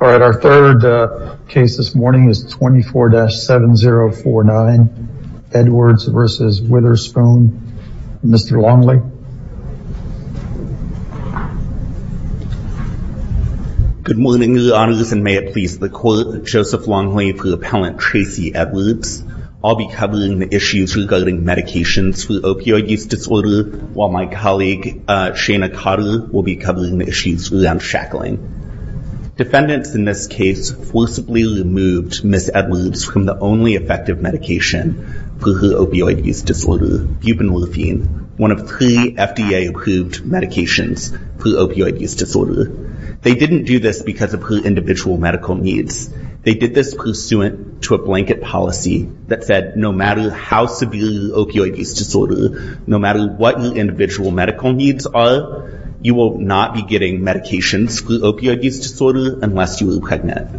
All right, our third case this morning is 24-7049 Edwards v. Witherspoon. Mr. Longley. Good morning, Your Honors, and may it please the Court. Joseph Longley for Appellant Tracey Edwards. I'll be covering the issues regarding medications for opioid use disorder, while my colleague Shana Cotter will be covering the issues around shackling. Defendants in this case forcibly removed Ms. Edwards from the only effective medication for her opioid use disorder, buprenorphine, one of three FDA-approved medications for opioid use disorder. They didn't do this because of her individual medical needs. They did this pursuant to a blanket policy that said no matter how severe your opioid use disorder, no matter what your medical needs are, you will not be getting medications for opioid use disorder unless you are pregnant.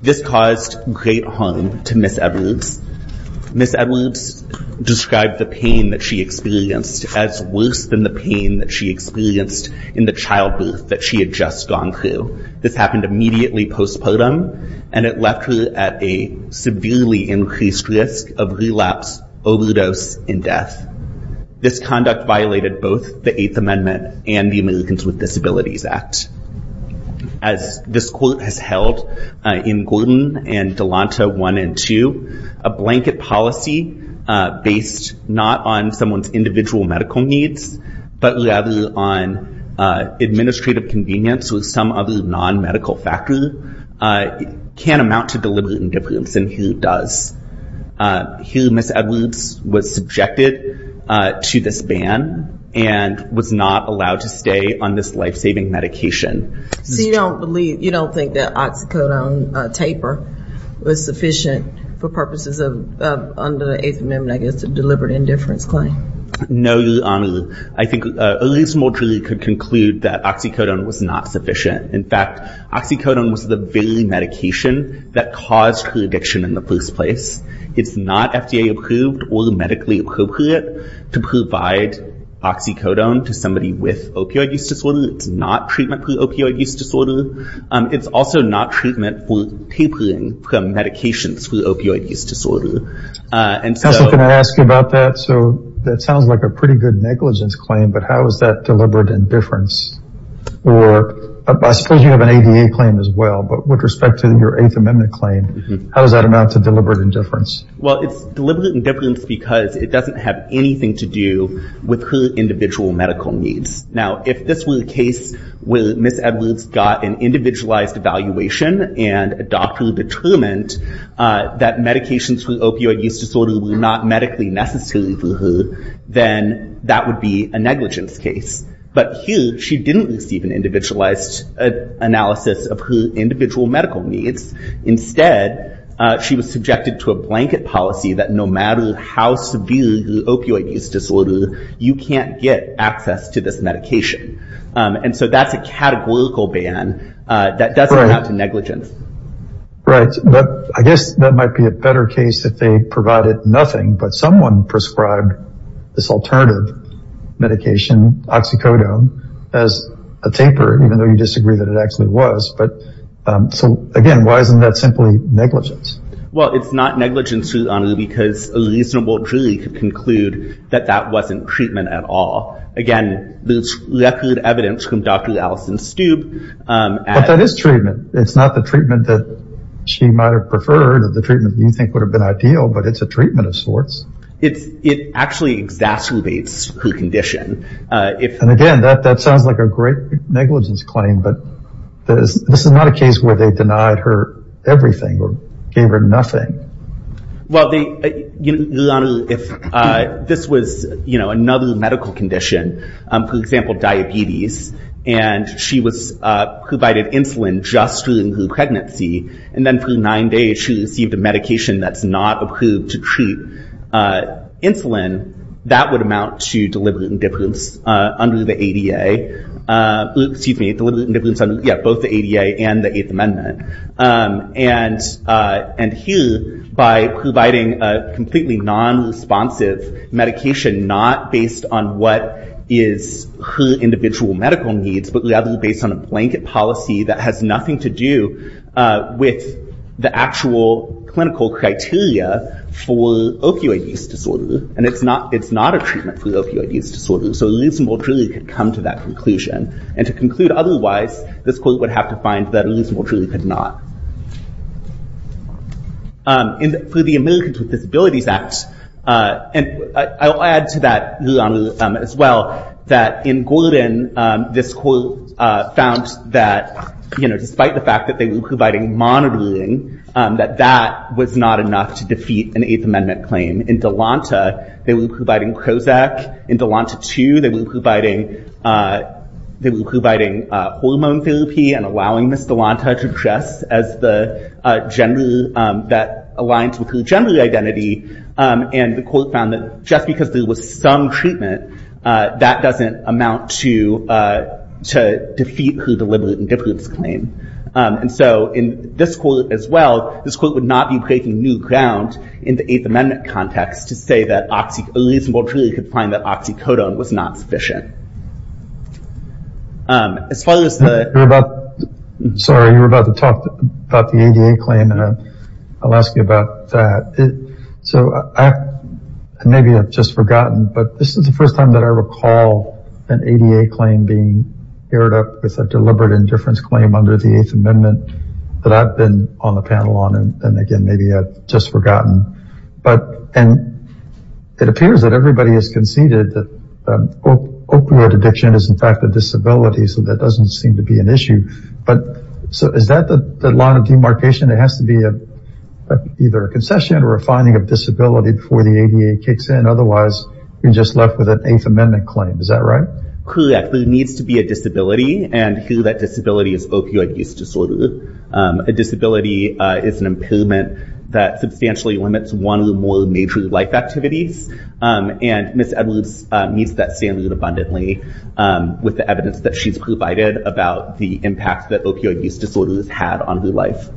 This caused great harm to Ms. Edwards. Ms. Edwards described the pain that she experienced as worse than the pain that she experienced in the childbirth that she had just gone through. This happened immediately postpartum, and it left her at a severely increased risk of relapse, overdose, and death. This conduct violated both the Eighth Amendment and the Americans with Disabilities Act. As this Court has held in Gordon and Delanta 1 and 2, a blanket policy based not on someone's individual medical needs, but rather on administrative convenience with some other non-medical factor, can amount to deliberate indifference, and here it does. Here Ms. Edwards was subjected to this ban and was not allowed to stay on this life-saving medication. So you don't believe, you don't think that oxycodone taper was sufficient for purposes of, under the Eighth Amendment, I guess, a deliberate indifference claim? No, Your Honor. I think a reasonable jury could conclude that oxycodone was not sufficient. In fact, oxycodone was the very medication that caused her addiction in the first place. It's not FDA-approved or medically appropriate to provide oxycodone to somebody with opioid use disorder. It's not treatment for opioid use disorder. It's also not treatment for tapering from medications for opioid use disorder. Counselor, can I ask you about that? So that sounds like a pretty good negligence claim, but how is that deliberate indifference? Or I suppose you have an ADA claim as well, but with respect to your Eighth Amendment claim, how does that amount to deliberate indifference? Well, it's deliberate indifference because it doesn't have anything to do with her individual medical needs. Now, if this were the case where Ms. Edwards got an individualized evaluation and a doctor determined that medications for opioid use disorder were not medically necessary for her, then that would be a negligence case. But here, she didn't receive an individualized analysis of her individual medical needs. Instead, she was subjected to a blanket policy that no matter how severe the opioid use disorder, you can't get access to this medication. And so that's a categorical ban that doesn't amount to negligence. Right. But I guess that might be a better case if they provided nothing, but someone prescribed this alternative medication, oxycodone, as a taper, even though you disagree that it actually was. So again, why isn't that simply negligence? Well, it's not negligence, honestly, because a jury could conclude that that wasn't treatment at all. Again, there's record evidence from Dr. Allison Stube. But that is treatment. It's not the treatment that she might have preferred, or the treatment you think would have been ideal, but it's a treatment of sorts. It actually exacerbates her condition. And again, that sounds like a great negligence claim, but this is not a case where they denied her everything or gave her nothing. Well, Your Honor, if this was another medical condition, for example, diabetes, and she was provided insulin just during her pregnancy, and then for nine days, she received a medication that's not approved to treat insulin, that would amount to deliberate by providing a completely non-responsive medication, not based on what is her individual medical needs, but rather based on a blanket policy that has nothing to do with the actual clinical criteria for opioid use disorder. And it's not a treatment for opioid use disorder. So Elisabelle truly could come to that conclusion. And to conclude otherwise, this court would have to find that Elisabelle truly could not. For the Americans with Disabilities Act, and I'll add to that, Your Honor, as well, that in Gordon, this court found that despite the fact that they were providing monitoring, that that was not enough to defeat an Eighth Amendment claim. In Delonta, they were providing Prozac. In Delonta II, they were providing hormone therapy and allowing Ms. Delonta to dress as the gender that aligns with her gender identity. And the court found that just because there was some treatment, that doesn't amount to defeat her deliberate indifference claim. And so in this court as well, this court would not be breaking new ground in the Eighth Amendment context to say that Elisabelle truly could find that oxycodone was not sufficient. As far as the... You were about to talk about the ADA claim, and I'll ask you about that. So maybe I've just forgotten, but this is the first time that I recall an ADA claim being aired up with a deliberate indifference claim under the Eighth Amendment that I've been on the panel on. And again, opioid addiction is in fact a disability, so that doesn't seem to be an issue. But is that the line of demarcation? It has to be either a concession or a finding of disability before the ADA kicks in. Otherwise, you're just left with an Eighth Amendment claim. Is that right? Correct. There needs to be a disability and that disability is opioid use disorder. A disability is an impairment that substantially limits one or more major life activities. And Ms. Edwards meets that standard abundantly with the evidence that she's provided about the impact that opioid use disorder has had on her life.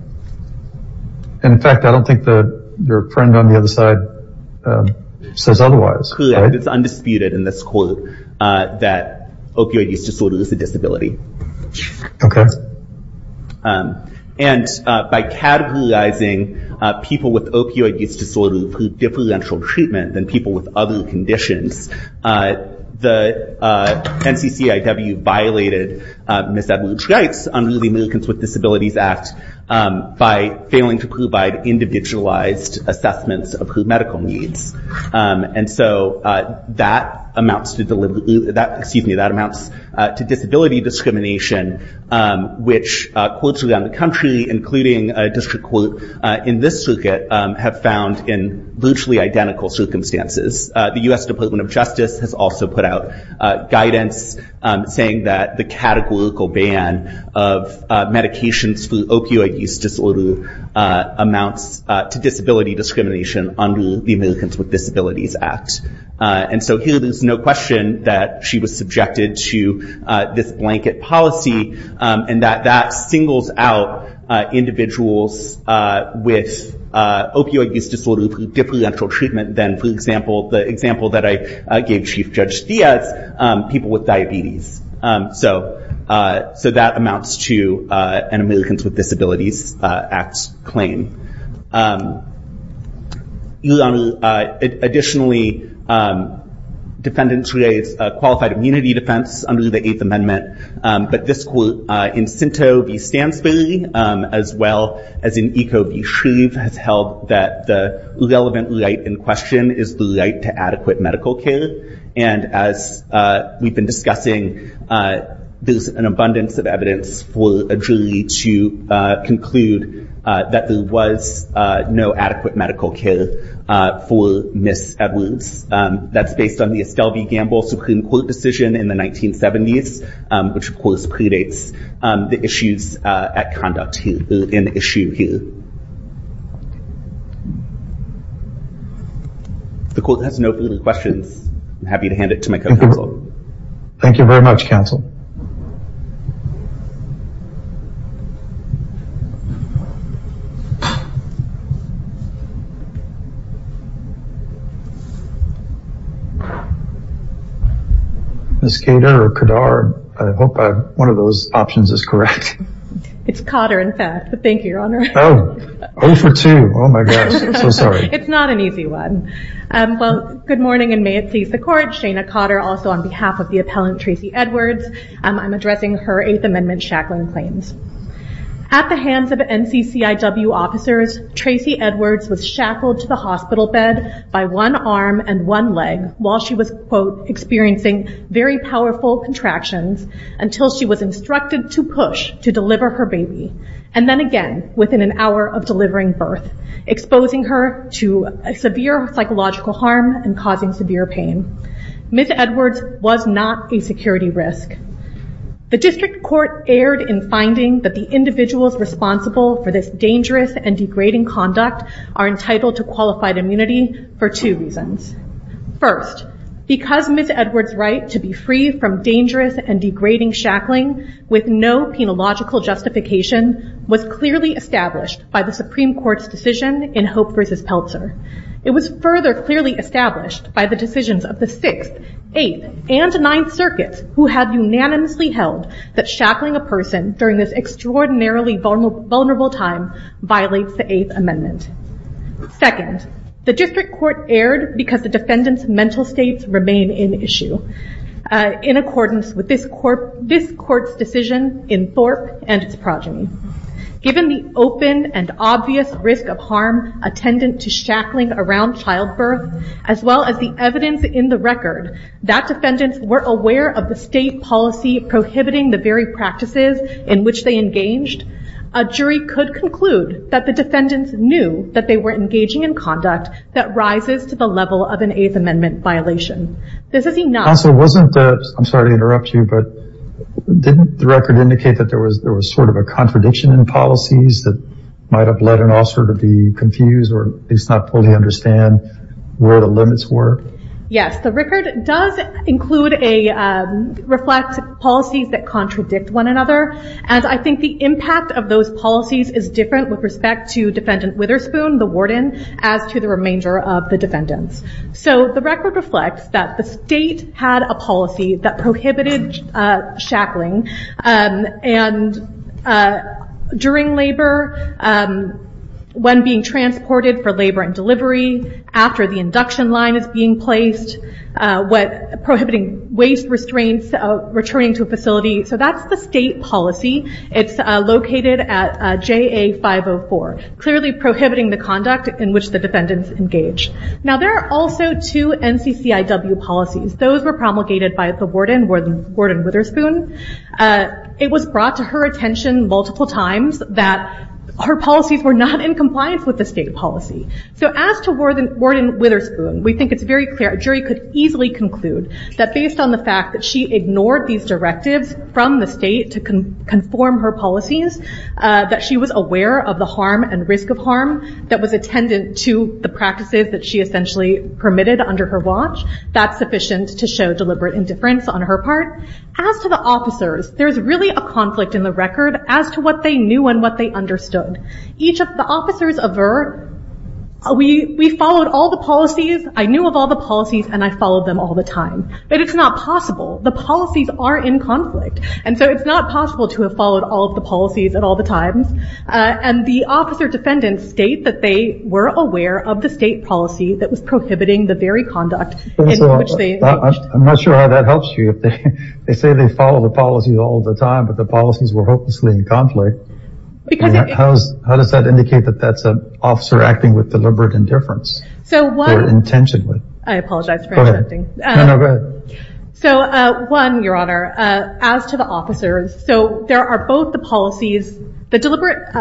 And in fact, I don't think that your friend on the other side says otherwise. Correct. It's undisputed in this court that opioid use disorder is a disability. Okay. And by categorizing people with opioid use disorder through differential treatment than people with other conditions, the NCCIW violated Ms. Edwards' rights under the Americans with Disabilities Act by failing to provide individualized assessments of her medical needs. And so that amounts to disability discrimination, which courts around the country, including a district court in this circuit, have found in virtually identical circumstances. The U.S. Department of Justice has also put out guidance saying that the categorical ban of medications for opioid use disorder amounts to disability discrimination under the Americans with Disabilities Act. And so here there's no question that she was subjected to this blanket policy and that that singles out individuals with opioid use disorder through differential treatment than, for example, the example that I gave Chief Judge Diaz, people with diabetes. So that amounts to an Americans with Disabilities Act claim. Additionally, defendants raised qualified immunity defense under the Eighth Amendment, but this court in Sinto v. Stansbury, as well as in Eco v. Shreve, has held that the relevant right is the right to adequate medical care. And as we've been discussing, there's an abundance of evidence for a jury to conclude that there was no adequate medical care for Ms. Edwards. That's based on the Estelle v. Gamble Supreme Court decision in the 1970s, which of course predates the issues at conduct in the issue here. The court has no further questions. I'm happy to hand it to my co-counsel. Thank you very much, counsel. Ms. Gater or Kadar, I hope one of those options is correct. It's Cotter, in fact. Thank you, Your Honor. Oh, 0 for 2. Oh my gosh. I'm so sorry. It's not an easy one. Well, good morning and may it please the court. Shana Cotter, also on behalf of the appellant, Tracey Edwards. I'm addressing her Eighth Amendment shackling claims. At the hands of NCCIW officers, Tracey Edwards was shackled to the hospital bed by one arm and one leg while she was, quote, experiencing very powerful contractions until she was instructed to push to deliver her baby. And then again, within an hour of delivering birth, exposing her to severe psychological harm and causing severe pain. Ms. Edwards was not a security risk. The district court erred in finding that the individuals responsible for this dangerous and degrading conduct are entitled to qualified immunity for two reasons. First, because Ms. Edwards' right to be free from dangerous and degrading shackling with no penological justification was clearly established by the Supreme Court's decision in Hope v. Peltzer. It was further clearly established by the decisions of the 6th, 8th, and 9th circuits who had unanimously held that shackling a person during this extraordinarily vulnerable time violates the Eighth Amendment. Second, the district court erred because the defendant's mental states remain in issue in accordance with this court's decision in Thorpe and its progeny. Given the open and obvious risk of harm attendant to shackling around childbirth, as well as the evidence in the record that defendants were aware of the state policy prohibiting the very practices in which they engaged, a jury could conclude that the defendants knew that they were engaging in conduct that rises to the level of an Eighth Amendment violation. This is enough... Counsel, wasn't the... I'm sorry to interrupt you, but didn't the record indicate that there was there was sort of a contradiction in policies that might have led an officer to be confused or at least not fully understand where the limits were? Yes, the record does include a... reflect policies that contradict one another, and I think the impact of those Witherspoon, the warden, as to the remainder of the defendants. The record reflects that the state had a policy that prohibited shackling during labor, when being transported for labor and delivery, after the induction line is being placed, prohibiting waste restraints, returning to a facility. So that's the state policy. It's located at JA 504, clearly prohibiting the conduct in which the defendants engage. Now there are also two NCCIW policies. Those were promulgated by the warden, Warden Witherspoon. It was brought to her attention multiple times that her policies were not in compliance with the state policy. So as to Warden Witherspoon, we think it's very clear. A jury could easily conclude that based on the fact that she ignored these directives from the state to conform her policies, that she was aware of the harm and risk of harm that was attendant to the practices that she essentially permitted under her watch. That's sufficient to show deliberate indifference on her part. As to the officers, there's really a conflict in the record as to what they knew and what they understood. Each of the officers avert, we followed all the policies, I knew of all the policies and I followed them all the time. But it's not possible. The policies are in conflict. And so it's not possible to have followed all of the policies at all the times. And the officer defendants state that they were aware of the state policy that was prohibiting the very conduct in which they engaged. I'm not sure how that helps you. They say they follow the policies all the time but the policies were hopelessly in conflict. Because... How does that indicate that that's an officer acting with deliberate indifference? So one... Intentionally. I apologize for interrupting. Go ahead. So one, your honor, as to the officers, so there are both the policies, the deliberate,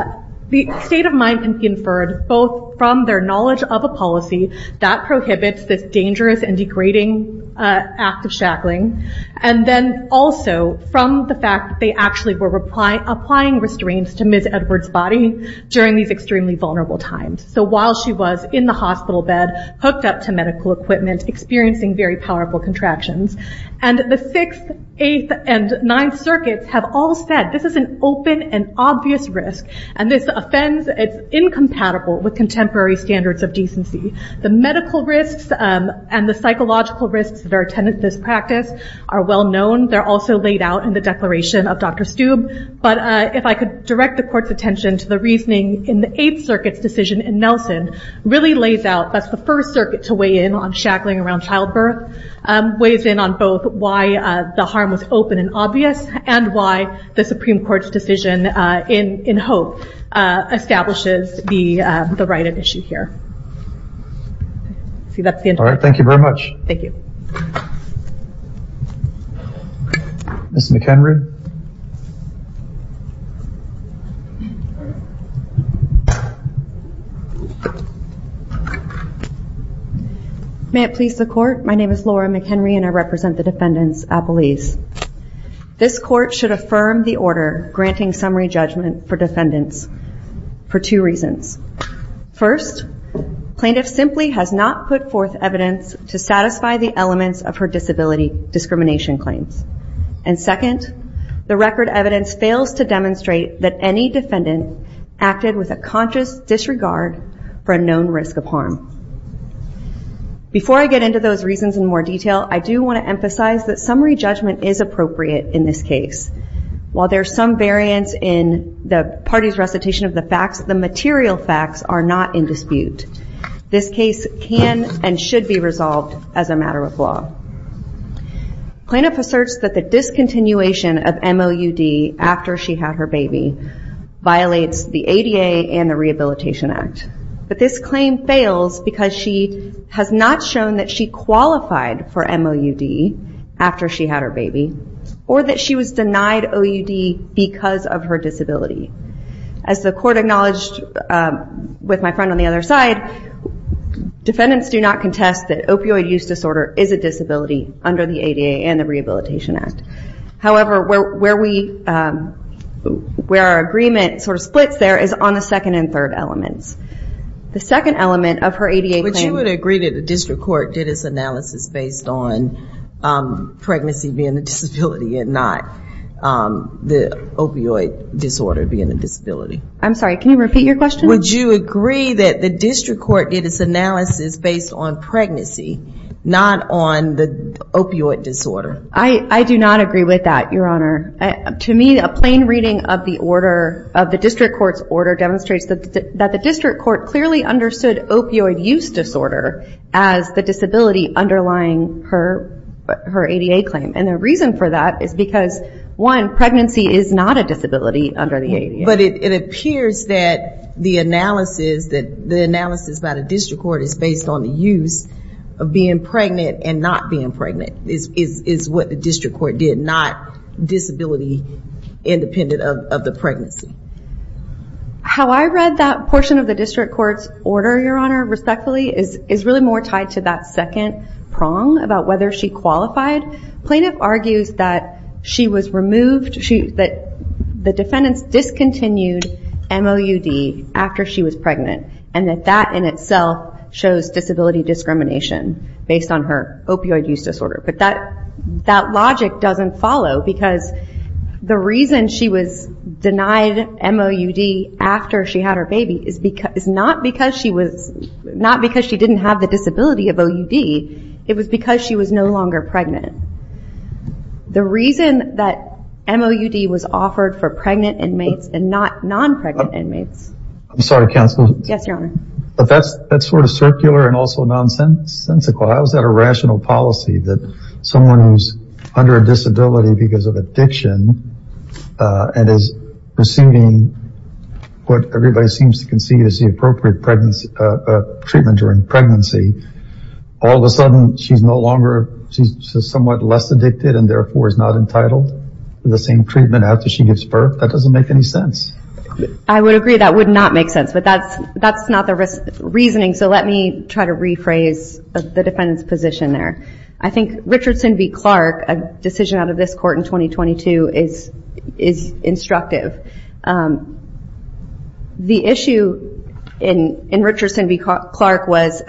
the state of mind can be inferred both from their knowledge of a policy that prohibits this dangerous and degrading act of shackling. And then also from the fact they actually were applying restraints to Ms. Edwards' body during these extremely vulnerable times. So while she was in the hospital bed, hooked up to medical equipment, experiencing very powerful contractions. And the 6th, 8th, and 9th circuits have all said this is an open and obvious risk. And this offends, it's incompatible with contemporary standards of decency. The medical risks and the psychological risks that are attended to this practice are well known. They're also laid out in the declaration of Dr. Stube. But if I could direct the court's attention to the reasoning in the 8th circuit's decision in Nelson really lays out, that's the first circuit to weigh in on shackling around childbirth, weighs in on both why the harm was open and obvious and why the Supreme Court's decision in Hope establishes the right of issue here. See, that's the... All right. Thank you very much. Thank you. Ms. McHenry. May it please the court. My name is Laura McHenry and I represent the defendants at police. This court should affirm the order granting summary judgment for defendants for two reasons. First, plaintiff simply has not put forth evidence to satisfy the elements of her disability discrimination claims. And second, the record evidence fails to demonstrate that any defendant acted with a conscious disregard for a known risk of harm. Before I get into those reasons in more detail, I do want to emphasize that summary judgment is appropriate in this case. While there's some variance in the party's recitation of the facts, the material facts are not in dispute. This case can and should be resolved as a matter of law. Plaintiff asserts that the discontinuation of MOUD after she had her baby violates the ADA and the Rehabilitation Act. But this claim fails because she has not shown that she qualified for MOUD after she had her baby or that she was denied OUD because of her disability. As the court acknowledged with my friend on the other side, defendants do not contest that opioid use disorder is a disability under the ADA and the Rehabilitation Act. However, where our agreement sort of splits there is on the second and third elements. The second element of her ADA claim... But you would agree that the district court did its analysis based on pregnancy being a disability and not the opioid disorder being a disability? I'm sorry, can you repeat your question? Would you agree that the district court did its analysis based on pregnancy, not on the opioid disorder? I do not agree with that, Your Honor. To me, a plain reading of the order, of the district court's order, demonstrates that the district court clearly understood opioid use disorder as the disability underlying her ADA claim. And the reason for that is because, one, pregnancy is not a disability under the ADA. But it appears that the analysis about a district court is based on the use of being pregnant and not being pregnant, is what the district court did, not disability independent of the pregnancy. How I read that portion of the district court's order, Your Honor, respectfully, is really more tied to that second prong about whether she qualified. Plaintiff argues that she was removed, that the defendants discontinued MOUD after she was pregnant, and that that in itself shows disability discrimination based on her opioid use disorder. That logic doesn't follow because the reason she was denied MOUD after she had her baby is not because she didn't have the disability of OUD, it was because she was no longer pregnant. The reason that MOUD was offered for pregnant inmates and not non-pregnant inmates... I'm sorry, counsel. Yes, Your Honor. But that's sort of circular and also nonsensical. How is that a rational policy that someone who's under a disability because of addiction and is receiving what everybody seems to conceive as the appropriate treatment during pregnancy, all of a sudden she's no longer... She's somewhat less addicted and therefore is not entitled to the same treatment after she gives birth? That doesn't make any sense. I would agree that would not make sense, but that's not the reasoning. Let me try to rephrase the defendant's position there. I think Richardson v. Clark, a decision out of this court in 2022, is instructive. The issue in Richardson v. Clark was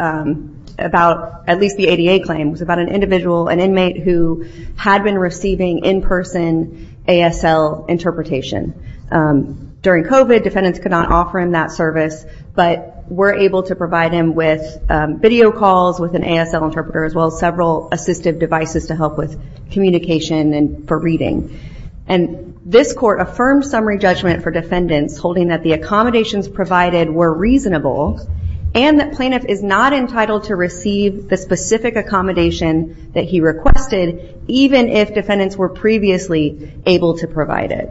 about at least the ADA claims, about an individual, an inmate who had been receiving in-person ASL interpretation. During COVID, defendants could not offer him that service, but were able to provide him with video calls with an ASL interpreter, as well as several assistive devices to help with communication and for reading. This court affirmed summary judgment for defendants, holding that the accommodations provided were reasonable and that plaintiff is not entitled to receive the specific accommodation that he requested, even if defendants were previously able to provide it.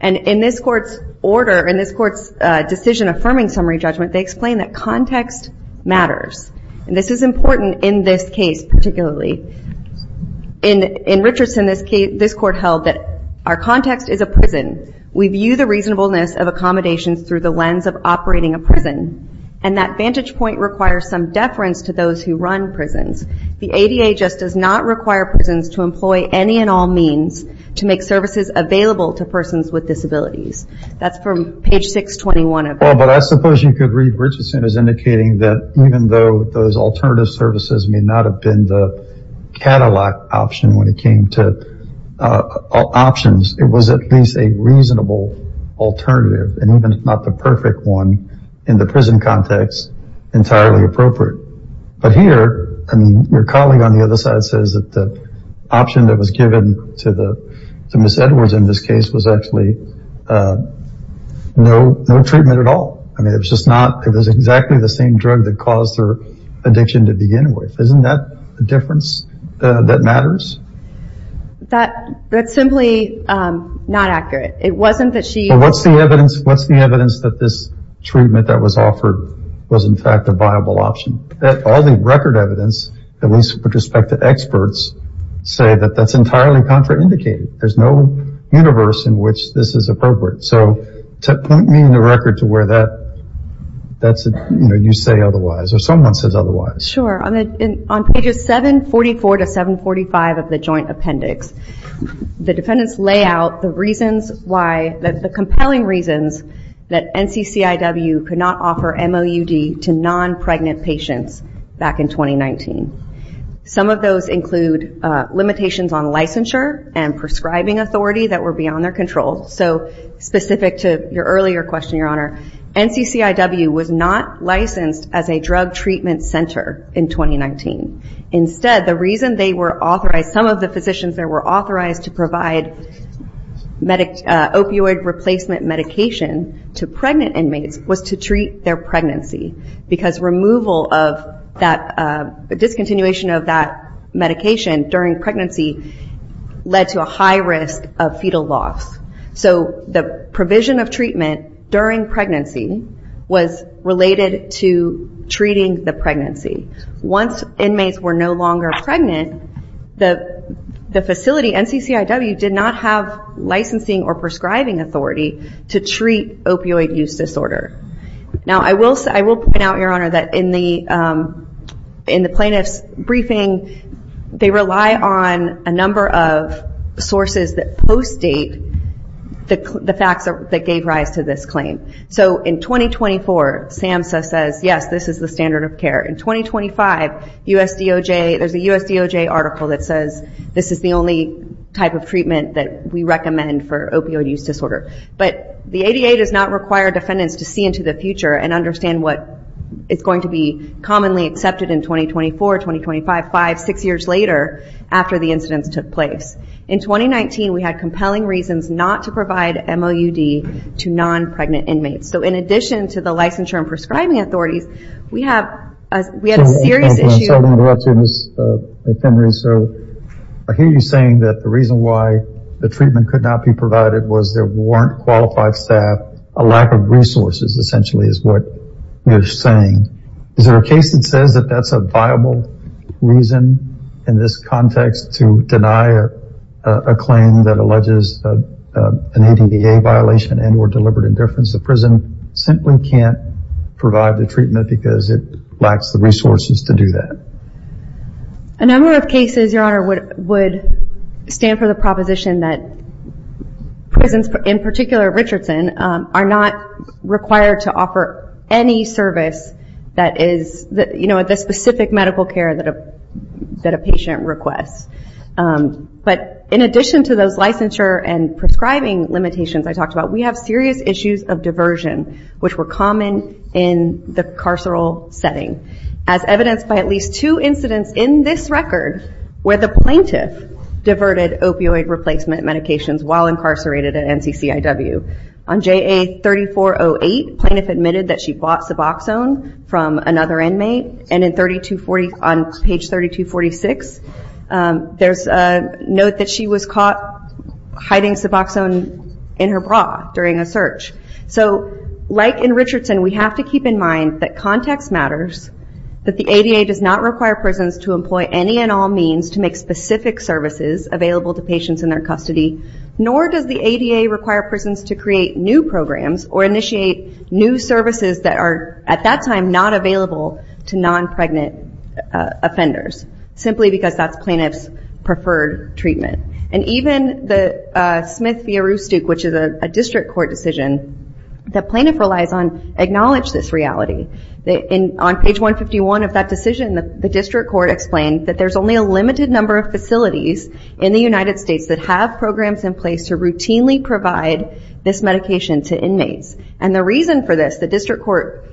In this court's order, in this court's decision affirming summary judgment, they explain that context matters. This is important in this case, particularly. In Richardson, this court held that our context is a prison. We view the reasonableness of accommodations through the lens of operating a prison, and that vantage point requires some deference to those who run prisons. The ADA just does not require prisons to employ any and all means to make services available to persons with disabilities. That's from page 621 of it. Well, but I suppose you could read Richardson as indicating that even though those alternative services may not have been the catalog option when it came to options, it was at least a reasonable alternative, and even if not the perfect one, in the prison context, entirely appropriate. But here, I mean, your colleague on the other side says that the Ms. Edwards in this case was actually no treatment at all. I mean, it was just not, it was exactly the same drug that caused her addiction to begin with. Isn't that a difference that matters? That, that's simply not accurate. It wasn't that she... Well, what's the evidence, what's the evidence that this treatment that was offered was in fact a viable option? All the record evidence, at least with respect to experts, say that that's entirely contraindicated. There's no universe in which this is appropriate. So to point me in the record to where that, you say otherwise, or someone says otherwise. Sure, on pages 744 to 745 of the Joint Appendix, the defendants lay out the reasons why, the compelling reasons that NCCIW could not offer MOUD to non-pregnant patients back in 2019. Some of those include limitations on licensure and prescribing authority that were beyond their control. So specific to your earlier question, your honor, NCCIW was not licensed as a drug treatment center in 2019. Instead, the reason they were authorized, some of the physicians that were authorized to provide opioid replacement medication to pregnant inmates was to treat their pregnancy because removal of that, discontinuation of that medication during pregnancy led to a high risk of fetal loss. So the provision of treatment during pregnancy was related to treating the pregnancy. Once inmates were no longer pregnant, the facility, NCCIW, did not have licensing or prescribing authority to treat opioid use disorder. Now, I will point out, your honor, that in the plaintiff's briefing, they rely on a number of sources that post-date the facts that gave rise to this claim. So in 2024, SAMHSA says, yes, this is the standard of care. In 2025, there's a USDOJ article that says, this is the only type of treatment that we recommend for opioid use disorder. But the ADA does not require defendants to see into the future and understand what is going to be commonly accepted in 2024, 2025, five, six years later, after the incidents took place. In 2019, we had compelling reasons not to provide MOUD to non-pregnant inmates. So in addition to the licensure and prescribing authorities, we have a serious issue- I'm sorry to interrupt you, Ms. McHenry. So I hear you saying that the reason why the treatment could not be provided was there weren't qualified staff, a lack of resources, essentially, is what you're saying. Is there a case that says that that's a viable reason in this context to deny a claim that alleges an ADA violation and or deliberate indifference? The prison simply can't provide the treatment because it lacks the resources to do that. A number of cases, Your Honor, would stand for the proposition that prisons, in particular Richardson, are not required to offer any service that is, you know, the specific medical care that a patient requests. But in addition to those licensure and prescribing limitations I talked about, we have serious issues of diversion, which were common in the carceral setting. As evidenced by at least two incidents in this record where the plaintiff diverted opioid replacement medications while incarcerated at NCCIW. On JA 3408, plaintiff admitted that she bought Suboxone from another inmate. And on page 3246, there's a note that she was caught hiding Suboxone in her bra during a search. So, like in Richardson, we have to keep in mind that context matters, that the ADA does not require prisons to employ any and all means to make specific services available to patients in their custody, nor does the ADA require prisons to create new programs or initiate new services that are, at that time, not available to non-pregnant offenders, simply because that's plaintiff's preferred treatment. And even the Smith v. Roostook, which is a district court decision, the plaintiff relies on acknowledge this reality. On page 151 of that decision, the district court explained that there's only a limited number of facilities in the United States that have programs in place to routinely provide this medication to inmates. And the reason for this, the district court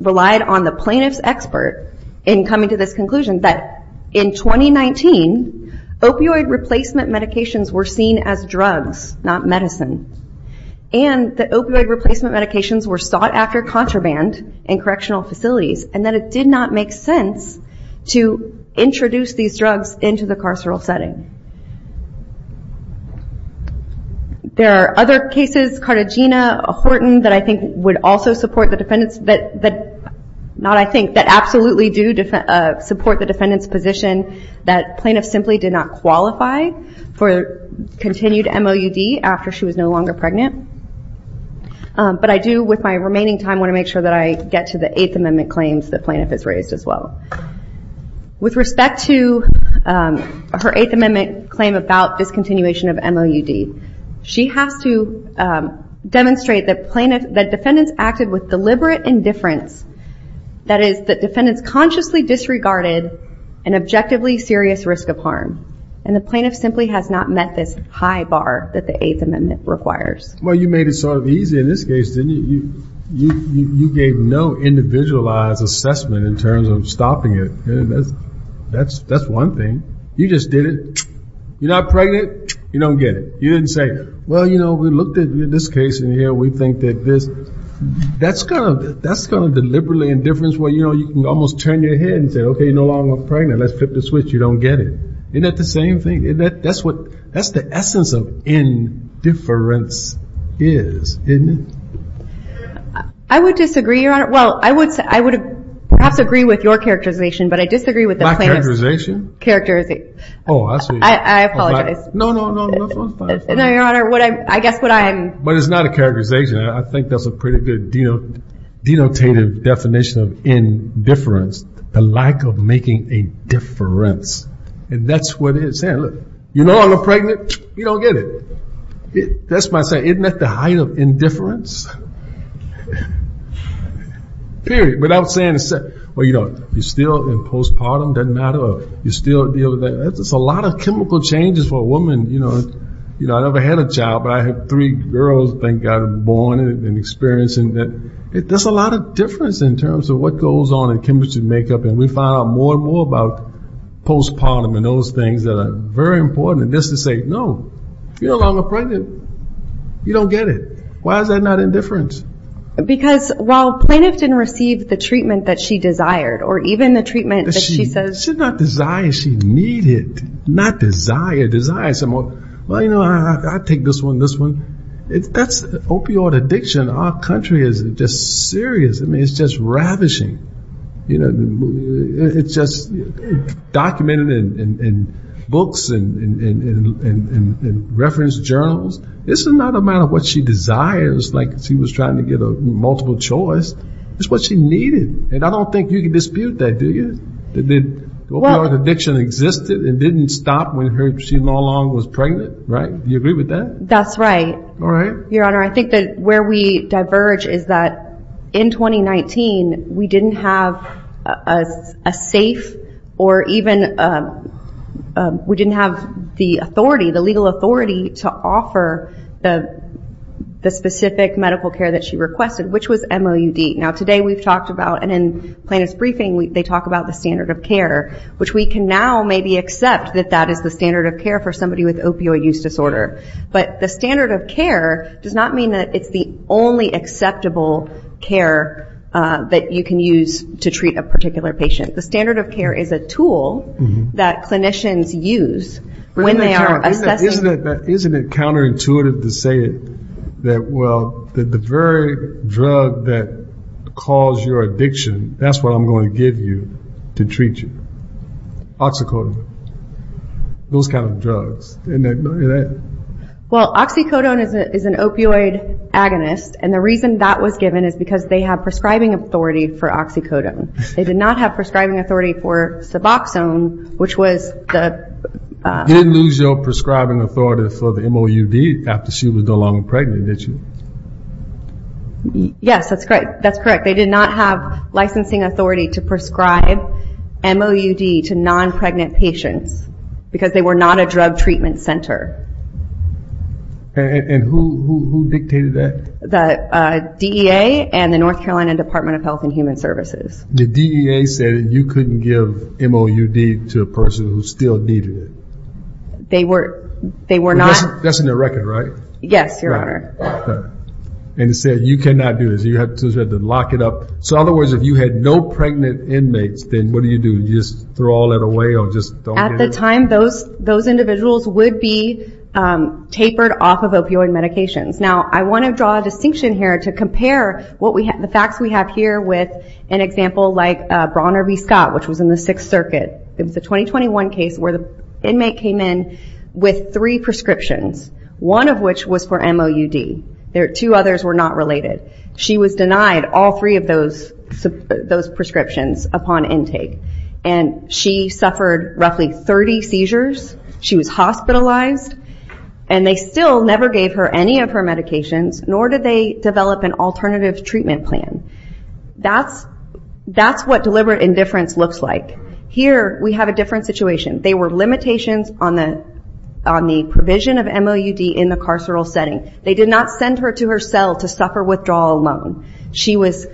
relied on the plaintiff's expert in coming to this conclusion, that in 2019, opioid replacement medications were seen as drugs, not medicine. And the opioid replacement medications were sought after contraband in correctional facilities, and that it did not make sense to introduce these drugs into the carceral setting. There are other cases, Cartagena, Horton, that I think would also support the defendants, that, not I think, that absolutely do support the defendants' position that plaintiff simply did not qualify for continued MOUD after she was no longer pregnant. But I do, with my remaining time, want to make sure that I get to the Eighth Amendment claims that plaintiff has raised as well. With respect to her Eighth Amendment claim about discontinuation of MOUD, she has to demonstrate that defendants acted with deliberate indifference. That is, that defendants consciously disregarded an objectively serious risk of harm. And the plaintiff simply has not met this high bar that the Eighth Amendment requires. Well, you made it sort of easy in this case, didn't you? You gave no individualized assessment in terms of stopping it. That's one thing. You just did it. You're not pregnant, you don't get it. You didn't say, well, you know, we looked at this case, and here we think that this, that's kind of deliberately indifference where, you know, you can almost turn your head and say, OK, you're no longer pregnant. Let's flip the switch. You don't get it. Isn't that the same thing? Isn't that, that's what, that's the essence of indifference is, isn't it? I would disagree, Your Honor. Well, I would say, I would perhaps agree with your characterization, but I disagree with the plaintiff's- Characterization. Oh, I see. I apologize. No, no, no, no, no. No, Your Honor, what I, I guess what I'm- But it's not a characterization. I think that's a pretty good denotative definition of indifference, the lack of making a difference. And that's what it is. Saying, look, you know I'm not pregnant, you don't get it. That's why I say, isn't that the height of indifference? Period, without saying, well, you know, you're still in postpartum, doesn't matter, you're still dealing with that. There's a lot of chemical changes for a woman, you know, I never had a child, but I had three girls, thank God, born and experiencing that. There's a lot of difference in terms of what goes on in chemistry and makeup, and we find out more and more about postpartum and those things that are very important. And just to say, no, you're no longer pregnant, you don't get it. Why is that not indifference? Because while plaintiff didn't receive the treatment that she desired, or even the treatment that she says- Not desire, desire some more. Well, you know, I take this one, this one. That's opioid addiction, our country is just serious, I mean, it's just ravishing. You know, it's just documented in books and reference journals. It's not a matter of what she desires, like she was trying to get a multiple choice, it's what she needed. And I don't think you can dispute that, do you? The opioid addiction existed, it didn't stop when she was pregnant, right? Do you agree with that? That's right. All right. Your Honor, I think that where we diverge is that in 2019, we didn't have a safe, or even we didn't have the authority, the legal authority to offer the specific medical care that she requested, which was MOUD. Now, today we've talked about, and in plaintiff's briefing, they talk about the standard of care, which we can now maybe accept that that is the standard of care for somebody with opioid use disorder. But the standard of care does not mean that it's the only acceptable care that you can use to treat a particular patient. The standard of care is a tool that clinicians use when they are assessing- Isn't it counterintuitive to say that, well, that the very drug that caused your addiction, that's what I'm going to give you to treat you. Oxycodone. Those kind of drugs. Well, oxycodone is an opioid agonist. And the reason that was given is because they have prescribing authority for oxycodone. They did not have prescribing authority for suboxone, which was the- After she was no longer pregnant, did you? Yes, that's correct. They did not have licensing authority to prescribe MOUD to non-pregnant patients because they were not a drug treatment center. And who dictated that? The DEA and the North Carolina Department of Health and Human Services. The DEA said that you couldn't give MOUD to a person who still needed it. They were not- That's in their record, right? Yes, Your Honor. And it said you cannot do this. You had to lock it up. So in other words, if you had no pregnant inmates, then what do you do? You just throw all that away or just don't give it? At the time, those individuals would be tapered off of opioid medications. Now, I want to draw a distinction here to compare the facts we have here with an example like Bronner v. Scott, which was in the Sixth Circuit. It was a 2021 case where the inmate came in with three prescriptions, one of which was for MOUD. Two others were not related. She was denied all three of those prescriptions upon intake, and she suffered roughly 30 seizures. She was hospitalized, and they still never gave her any of her medications, nor did they develop an alternative treatment plan. That's what deliberate indifference looks like. Here, we have a different situation. They were limitations on the provision of MOUD in the carceral setting. They did not send her to her cell to suffer withdrawal alone. She was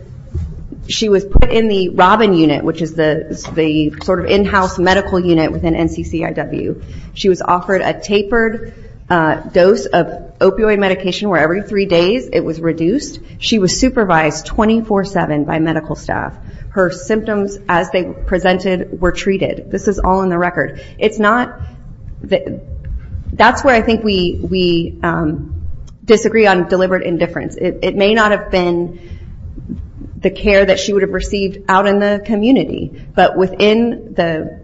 put in the Robin Unit, which is the sort of in-house medical unit within NCCIW. She was offered a tapered dose of opioid medication where every three days it was reduced. She was supervised 24-7 by medical staff. Her symptoms, as they presented, were treated. This is all in the record. That's where I think we disagree on deliberate indifference. It may not have been the care that she would have received out in the community, but within the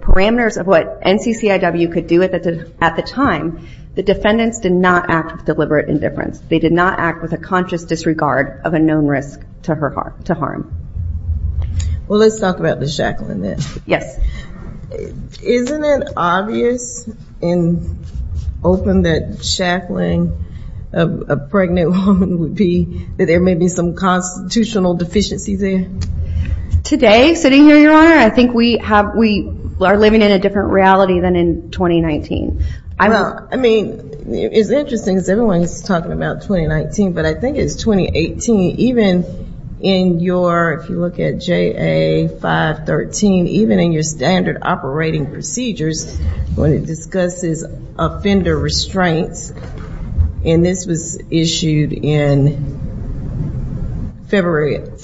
parameters of what NCCIW could do at the time, the defendants did not act with deliberate indifference. They did not act with a conscious disregard of a known risk to harm. Well, let's talk about the shackling then. Isn't it obvious and open that shackling a pregnant woman would be that there may be some constitutional deficiency there? Today, sitting here, Your Honor, I think we are living in a different reality than in 2019. I mean, it's interesting because everyone's talking about 2019, but I think it's 2018. Even in your, if you look at JA 513, even in your standard operating procedures, when it discusses offender restraints, and this was issued in February of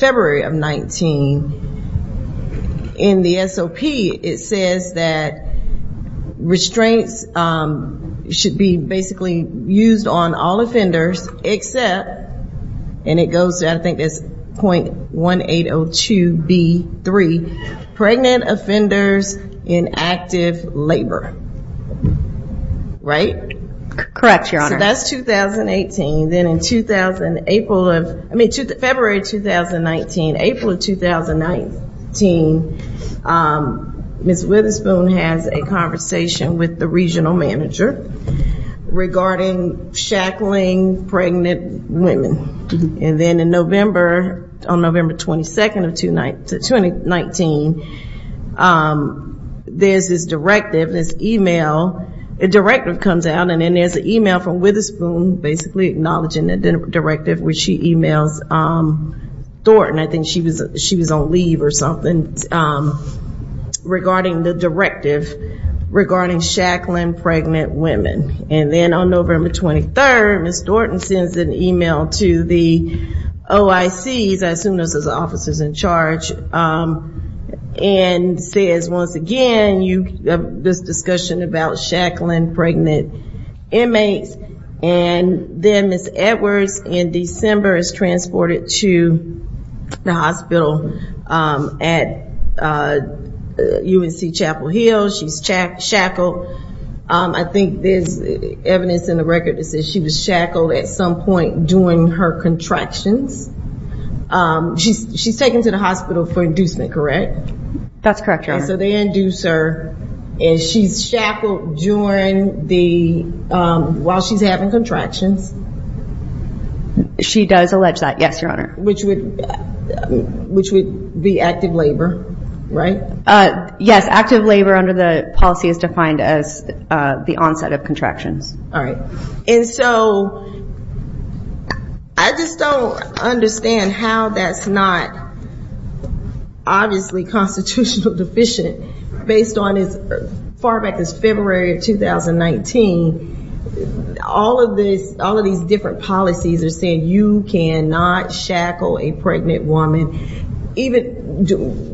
19, in the SOP, it says that restraints should be basically used on all offenders except, and it goes to, I think it's 0.1802B3, pregnant offenders in active labor, right? Correct, Your Honor. So that's 2018. Then in April of, I mean, February 2019, April of 2019, Ms. Witherspoon has a conversation with the regional manager regarding shackling pregnant women. And then in November, on November 22nd of 2019, there's this directive, this email, a directive comes out, and then there's an email from Witherspoon, basically acknowledging the directive, which she emails Thornton. I think she was on leave or something regarding the directive regarding shackling pregnant women. And then on November 23rd, Ms. Thornton sends an email to the OICs, I assume this is the officers in charge, and says, once again, you have this discussion about shackling pregnant inmates. And then Ms. Edwards in December is transported to the hospital at UNC Chapel Hill. She's shackled. I think there's evidence in the record that says she was shackled at some point during her contractions. She's taken to the hospital for inducement, correct? That's correct, Your Honor. So they induce her, and she's shackled while she's having contractions. She does allege that, yes, Your Honor. Which would be active labor, right? Yes, active labor under the policy is defined as the onset of contractions. All right. And so I just don't understand how that's not obviously constitutional deficient, based on as far back as February of 2019, all of these different policies are saying you cannot shackle a pregnant woman, even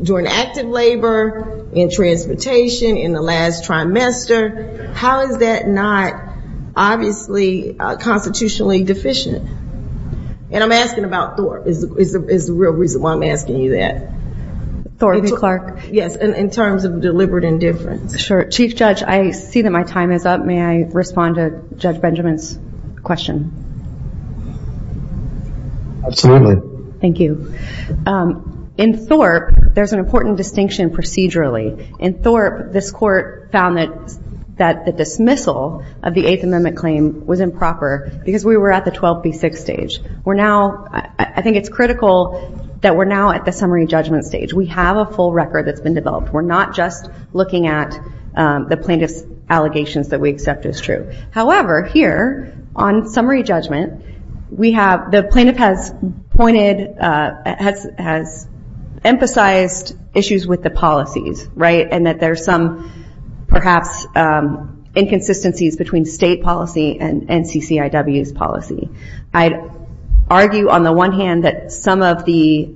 during active labor, in transportation, in the last trimester. How is that not obviously constitutionally deficient? And I'm asking about Thor, is the real reason why I'm asking you that. Thor v. Clark. Yes, in terms of deliberate indifference. Sure. Chief Judge, I see that my time is up. May I respond to Judge Benjamin's question? Absolutely. Thank you. In Thor, there's an important distinction procedurally. In Thor, this court found that the dismissal of the Eighth Amendment claim was improper, because we were at the 12 v. 6 stage. We're now, I think it's critical that we're now at the summary judgment stage. We have a full record that's been developed. We're not just looking at the plaintiff's allegations that we accept as true. However, here, on summary judgment, the plaintiff has pointed, has emphasized issues with the policies, right? And that there's some, perhaps, inconsistencies between state policy and NCCIW's policy. I argue, on the one hand, that some of the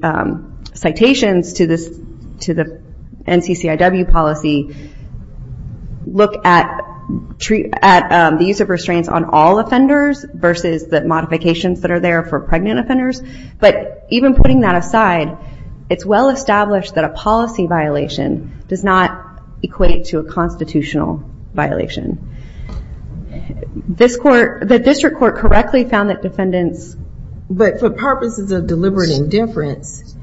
citations to the NCCIW policy look at the use of restraints on all offenders, versus the modifications that are there for pregnant offenders. But even putting that aside, it's well-established that a policy violation does not equate to a constitutional violation. The district court correctly found that defendants... But for purposes of deliberate indifference,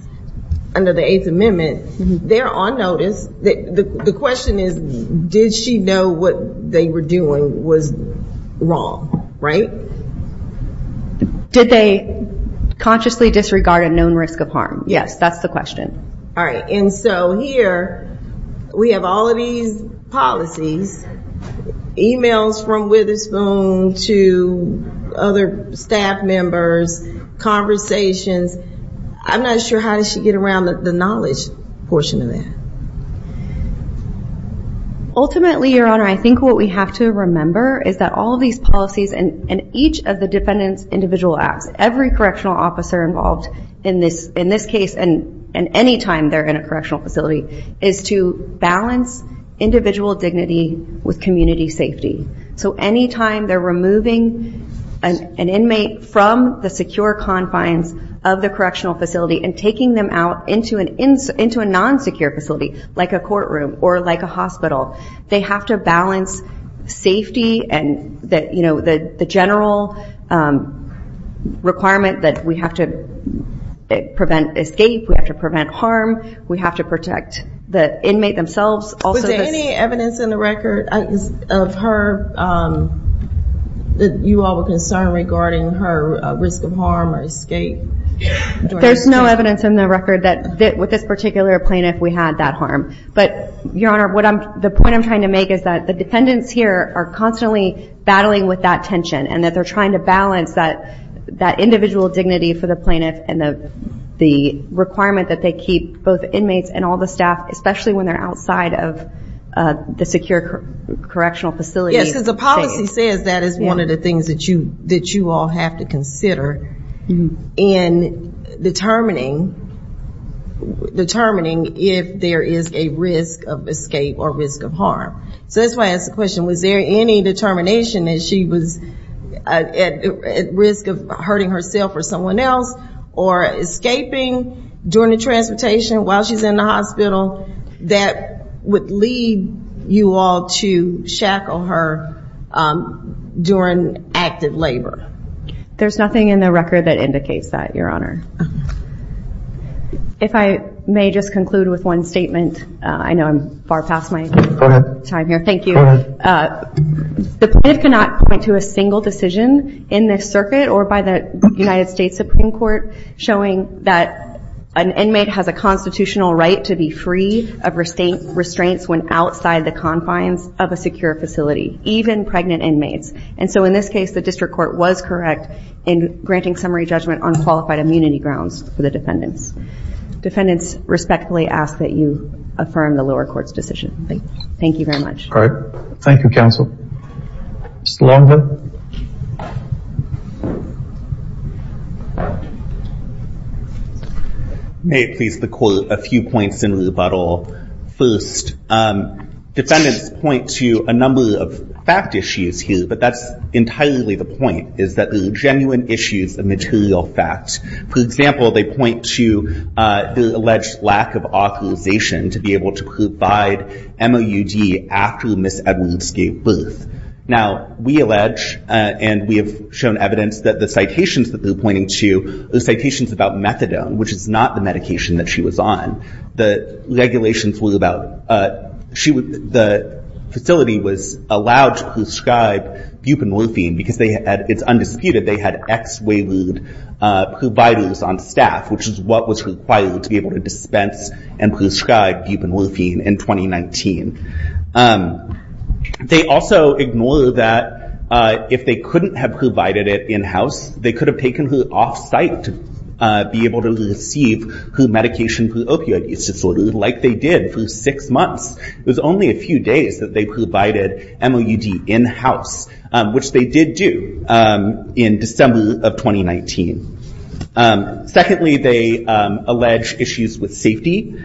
under the Eighth Amendment, they're on notice. The question is, did she know what they were doing was wrong, right? Did they consciously disregard a known risk of harm? Yes, that's the question. All right. And so here, we have all of these policies, emails from Witherspoon to other staff members, conversations. I'm not sure, how did she get around the knowledge portion of that? Ultimately, Your Honor, I think what we have to remember is that all of these policies, and each of the defendants' individual acts, every correctional officer involved in this case, and any time they're in a correctional facility, is to balance individual dignity with community safety. So any time they're removing an inmate from the secure confines of the correctional facility and taking them out into a non-secure facility, like a courtroom or like a hospital, they have to balance safety and the general requirement that we have to prevent escape, we have to prevent harm, we have to protect the inmate themselves. Was there any evidence in the record of her, that you all were concerned regarding her risk of harm or escape? There's no evidence in the record that with this particular plaintiff, we had that harm. But Your Honor, the point I'm trying to make is that the defendants here are constantly battling with that tension, and that they're trying to balance that individual dignity for the plaintiff and the requirement that they keep both inmates and all the staff, especially when they're outside of the secure correctional facility. Yes, because the policy says that is one of the things that you all have to consider in determining if there is a risk of escape or risk of harm. So that's why I asked the question, was there any determination that she was at risk of hurting herself or someone else, or escaping during the transportation while she's in the hospital? That would lead you all to shackle her during active labor. There's nothing in the record that indicates that, Your Honor. If I may just conclude with one statement, I know I'm far past my time here, thank you. The plaintiff cannot point to a single decision in this circuit or by the United States Supreme Court showing that an inmate has a constitutional right to be free of restraints when outside the confines of a secure facility, even pregnant inmates. And so in this case, the district court was correct in granting summary judgment on qualified immunity grounds for the defendants. Defendants respectfully ask that you affirm the lower court's decision. Thank you very much. All right. Thank you, counsel. Mr. Longden. May it please the court, a few points in rebuttal. First, defendants point to a number of fact issues here, but that's entirely the point, is that there are genuine issues of material facts. For example, they point to the alleged lack of authorization to be able to provide MOUD after Ms. Edwards gave birth. Now, we allege, and we have shown evidence that the citations that they're pointing to are citations about methadone, which is not the medication that she was on. The regulations were about, the facility was allowed to prescribe buprenorphine because they had, it's undisputed, they had ex-WAYLUDE providers on staff, which is what was required to be able to dispense and prescribe buprenorphine in 2019. They also ignore that if they couldn't have provided it in-house, they could have taken her off-site to be able to receive her medication for opioid use disorder, like they did for six months. It was only a few days that they provided MOUD in-house, which they did do in December of 2019. Secondly, they allege issues with safety.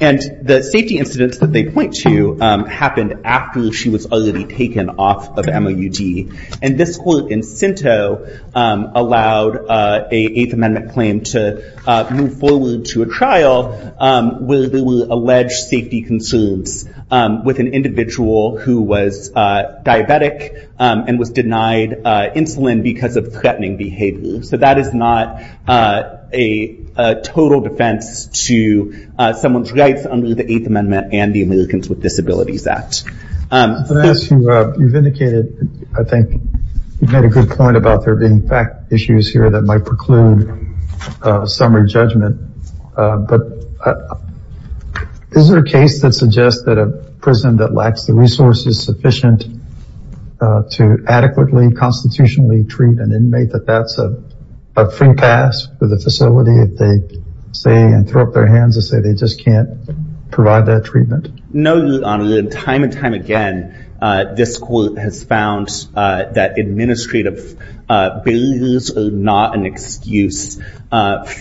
And the safety incidents that they point to happened after she was already taken off of MOUD. And this court in Sinto allowed an Eighth Amendment claim to move forward to a trial where there were alleged safety concerns with an individual who was diabetic and was denied insulin because of threatening behavior. So that is not a total defense to someone's rights under the Eighth Amendment and the Americans with Disabilities Act. I'm going to ask you, you've indicated, I think, you've made a good point about there being fact issues here that might preclude summary judgment, but is there a case that suggests that a prison that lacks the resources sufficient to adequately constitutionally treat an inmate, that that's a free pass for the facility if they say and throw up their hands and say they just can't provide that treatment? No, Your Honor, and time and time again, this court has found that administrative barriers are not an excuse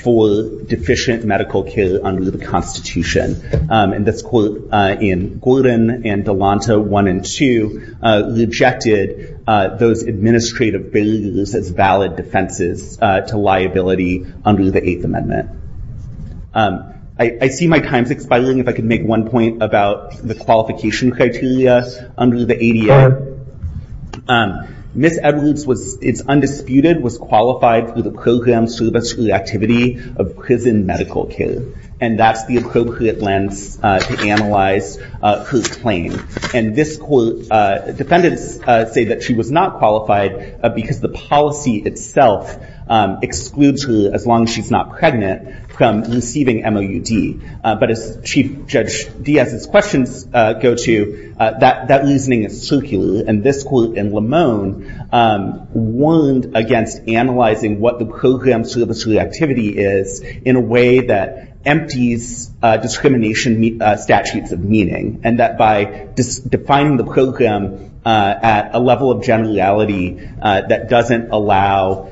for deficient medical care under the Constitution. And this court in Gordon and Delanto 1 and 2 rejected those administrative barriers as valid defenses to liability under the Eighth Amendment. I see my time's expiring. If I could make one point about the qualification criteria under the ADA. Ms. Edwards is undisputed, was qualified for the program service or activity of prison medical care. And that's the appropriate lens to analyze her claim. And this court, defendants say that she was not qualified because the policy itself excludes her as long as she's not pregnant from receiving MOUD. But as Chief Judge Diaz's questions go to, that reasoning is circular. And this court in Limon warned against analyzing what the program service or activity is in a way that empties discrimination statutes of meaning. And that by defining the program at a level of generality that doesn't allow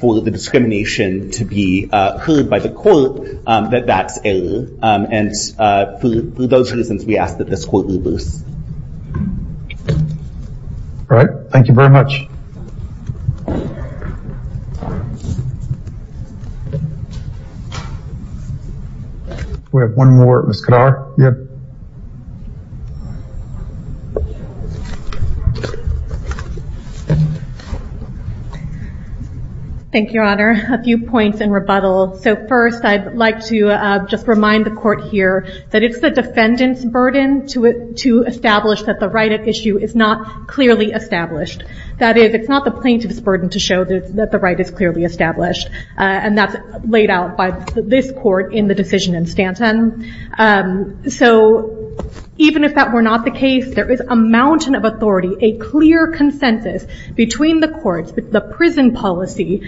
for the discrimination to be heard by the court, that that's error. And for those reasons, we ask that this court lose. All right, thank you very much. We have one more, Ms. Kadar. Thank you, Your Honor. A few points in rebuttal. So first, I'd like to just remind the court here that it's the defendant's burden to establish that the right at issue is not clearly established. That is, it's not the plaintiff's burden to show that the right is clearly established. And that's laid out by this court in the decision in Stanton. So even if that were not the case, there is a mountain of authority, a clear consensus between the courts, the prison policy,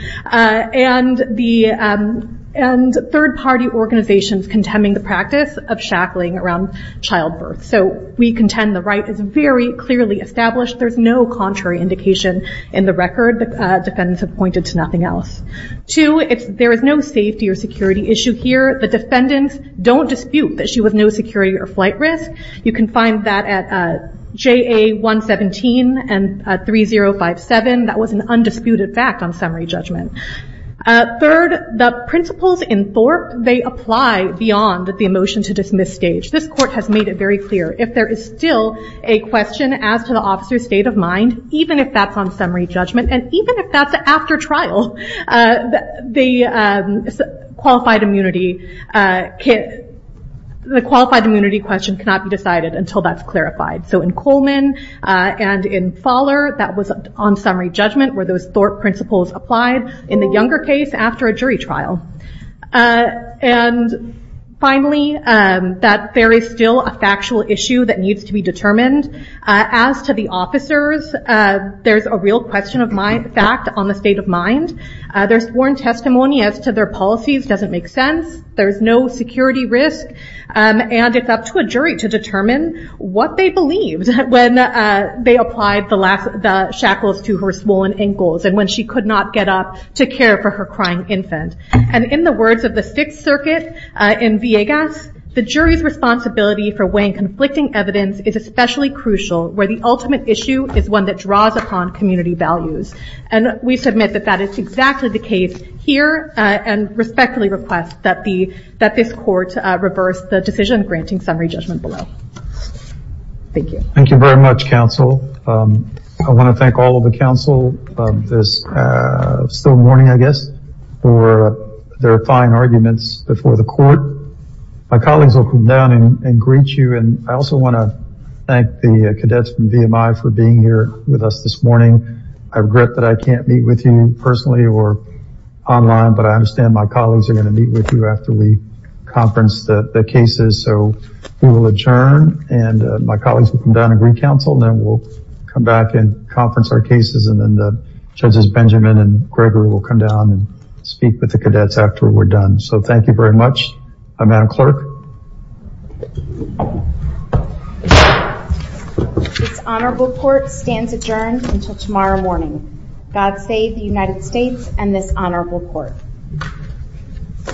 and third party organizations contending the practice of shackling around childbirth. So we contend the right is very clearly established. There's no contrary indication in the record. The defendants have pointed to nothing else. Two, there is no safety or security issue here. The defendants don't dispute that she was no security or flight risk. You can find that at JA 117 and 3057. That was an undisputed fact on summary judgment. Third, the principles in Thorpe, they apply beyond the motion to dismiss stage. This court has made it very clear. If there is still a question as to the officer's state of mind, even if that's on summary judgment, and even if that's after trial, the qualified immunity question cannot be decided until that's clarified. So in Coleman and in Fowler, that was on summary judgment where those Thorpe principles applied in the younger case after a jury trial. And finally, that there is still a factual issue that needs to be determined. As to the officers, there's a real question of fact on the state of mind. There's sworn testimony as to their policies doesn't make sense. There's no security risk. And it's up to a jury to determine what they believed when they applied the shackles to her swollen ankles and when she could not get up to care for her crying infant. And in the words of the Sixth Circuit in Villegas, the jury's responsibility for weighing conflicting evidence is especially crucial where the ultimate issue is one that draws upon community values. And we submit that that is exactly the case here and respectfully request that this court reverse the decision granting summary judgment below. Thank you. Thank you very much, counsel. I want to thank all of the counsel this still morning, I guess, for their fine arguments before the court. My colleagues will come down and greet you. And I also want to thank the cadets from VMI for being here with us this morning. I regret that I can't meet with you personally or online, but I understand my colleagues are going to meet with you after we conference the cases. So we will adjourn and my colleagues will come down and greet counsel. Then we'll come back and conference our cases. And then the judges, Benjamin and Gregory, will come down and speak with the cadets after we're done. So thank you very much. Madam Clerk. This honorable court stands adjourned until tomorrow morning. God save the United States and this honorable court.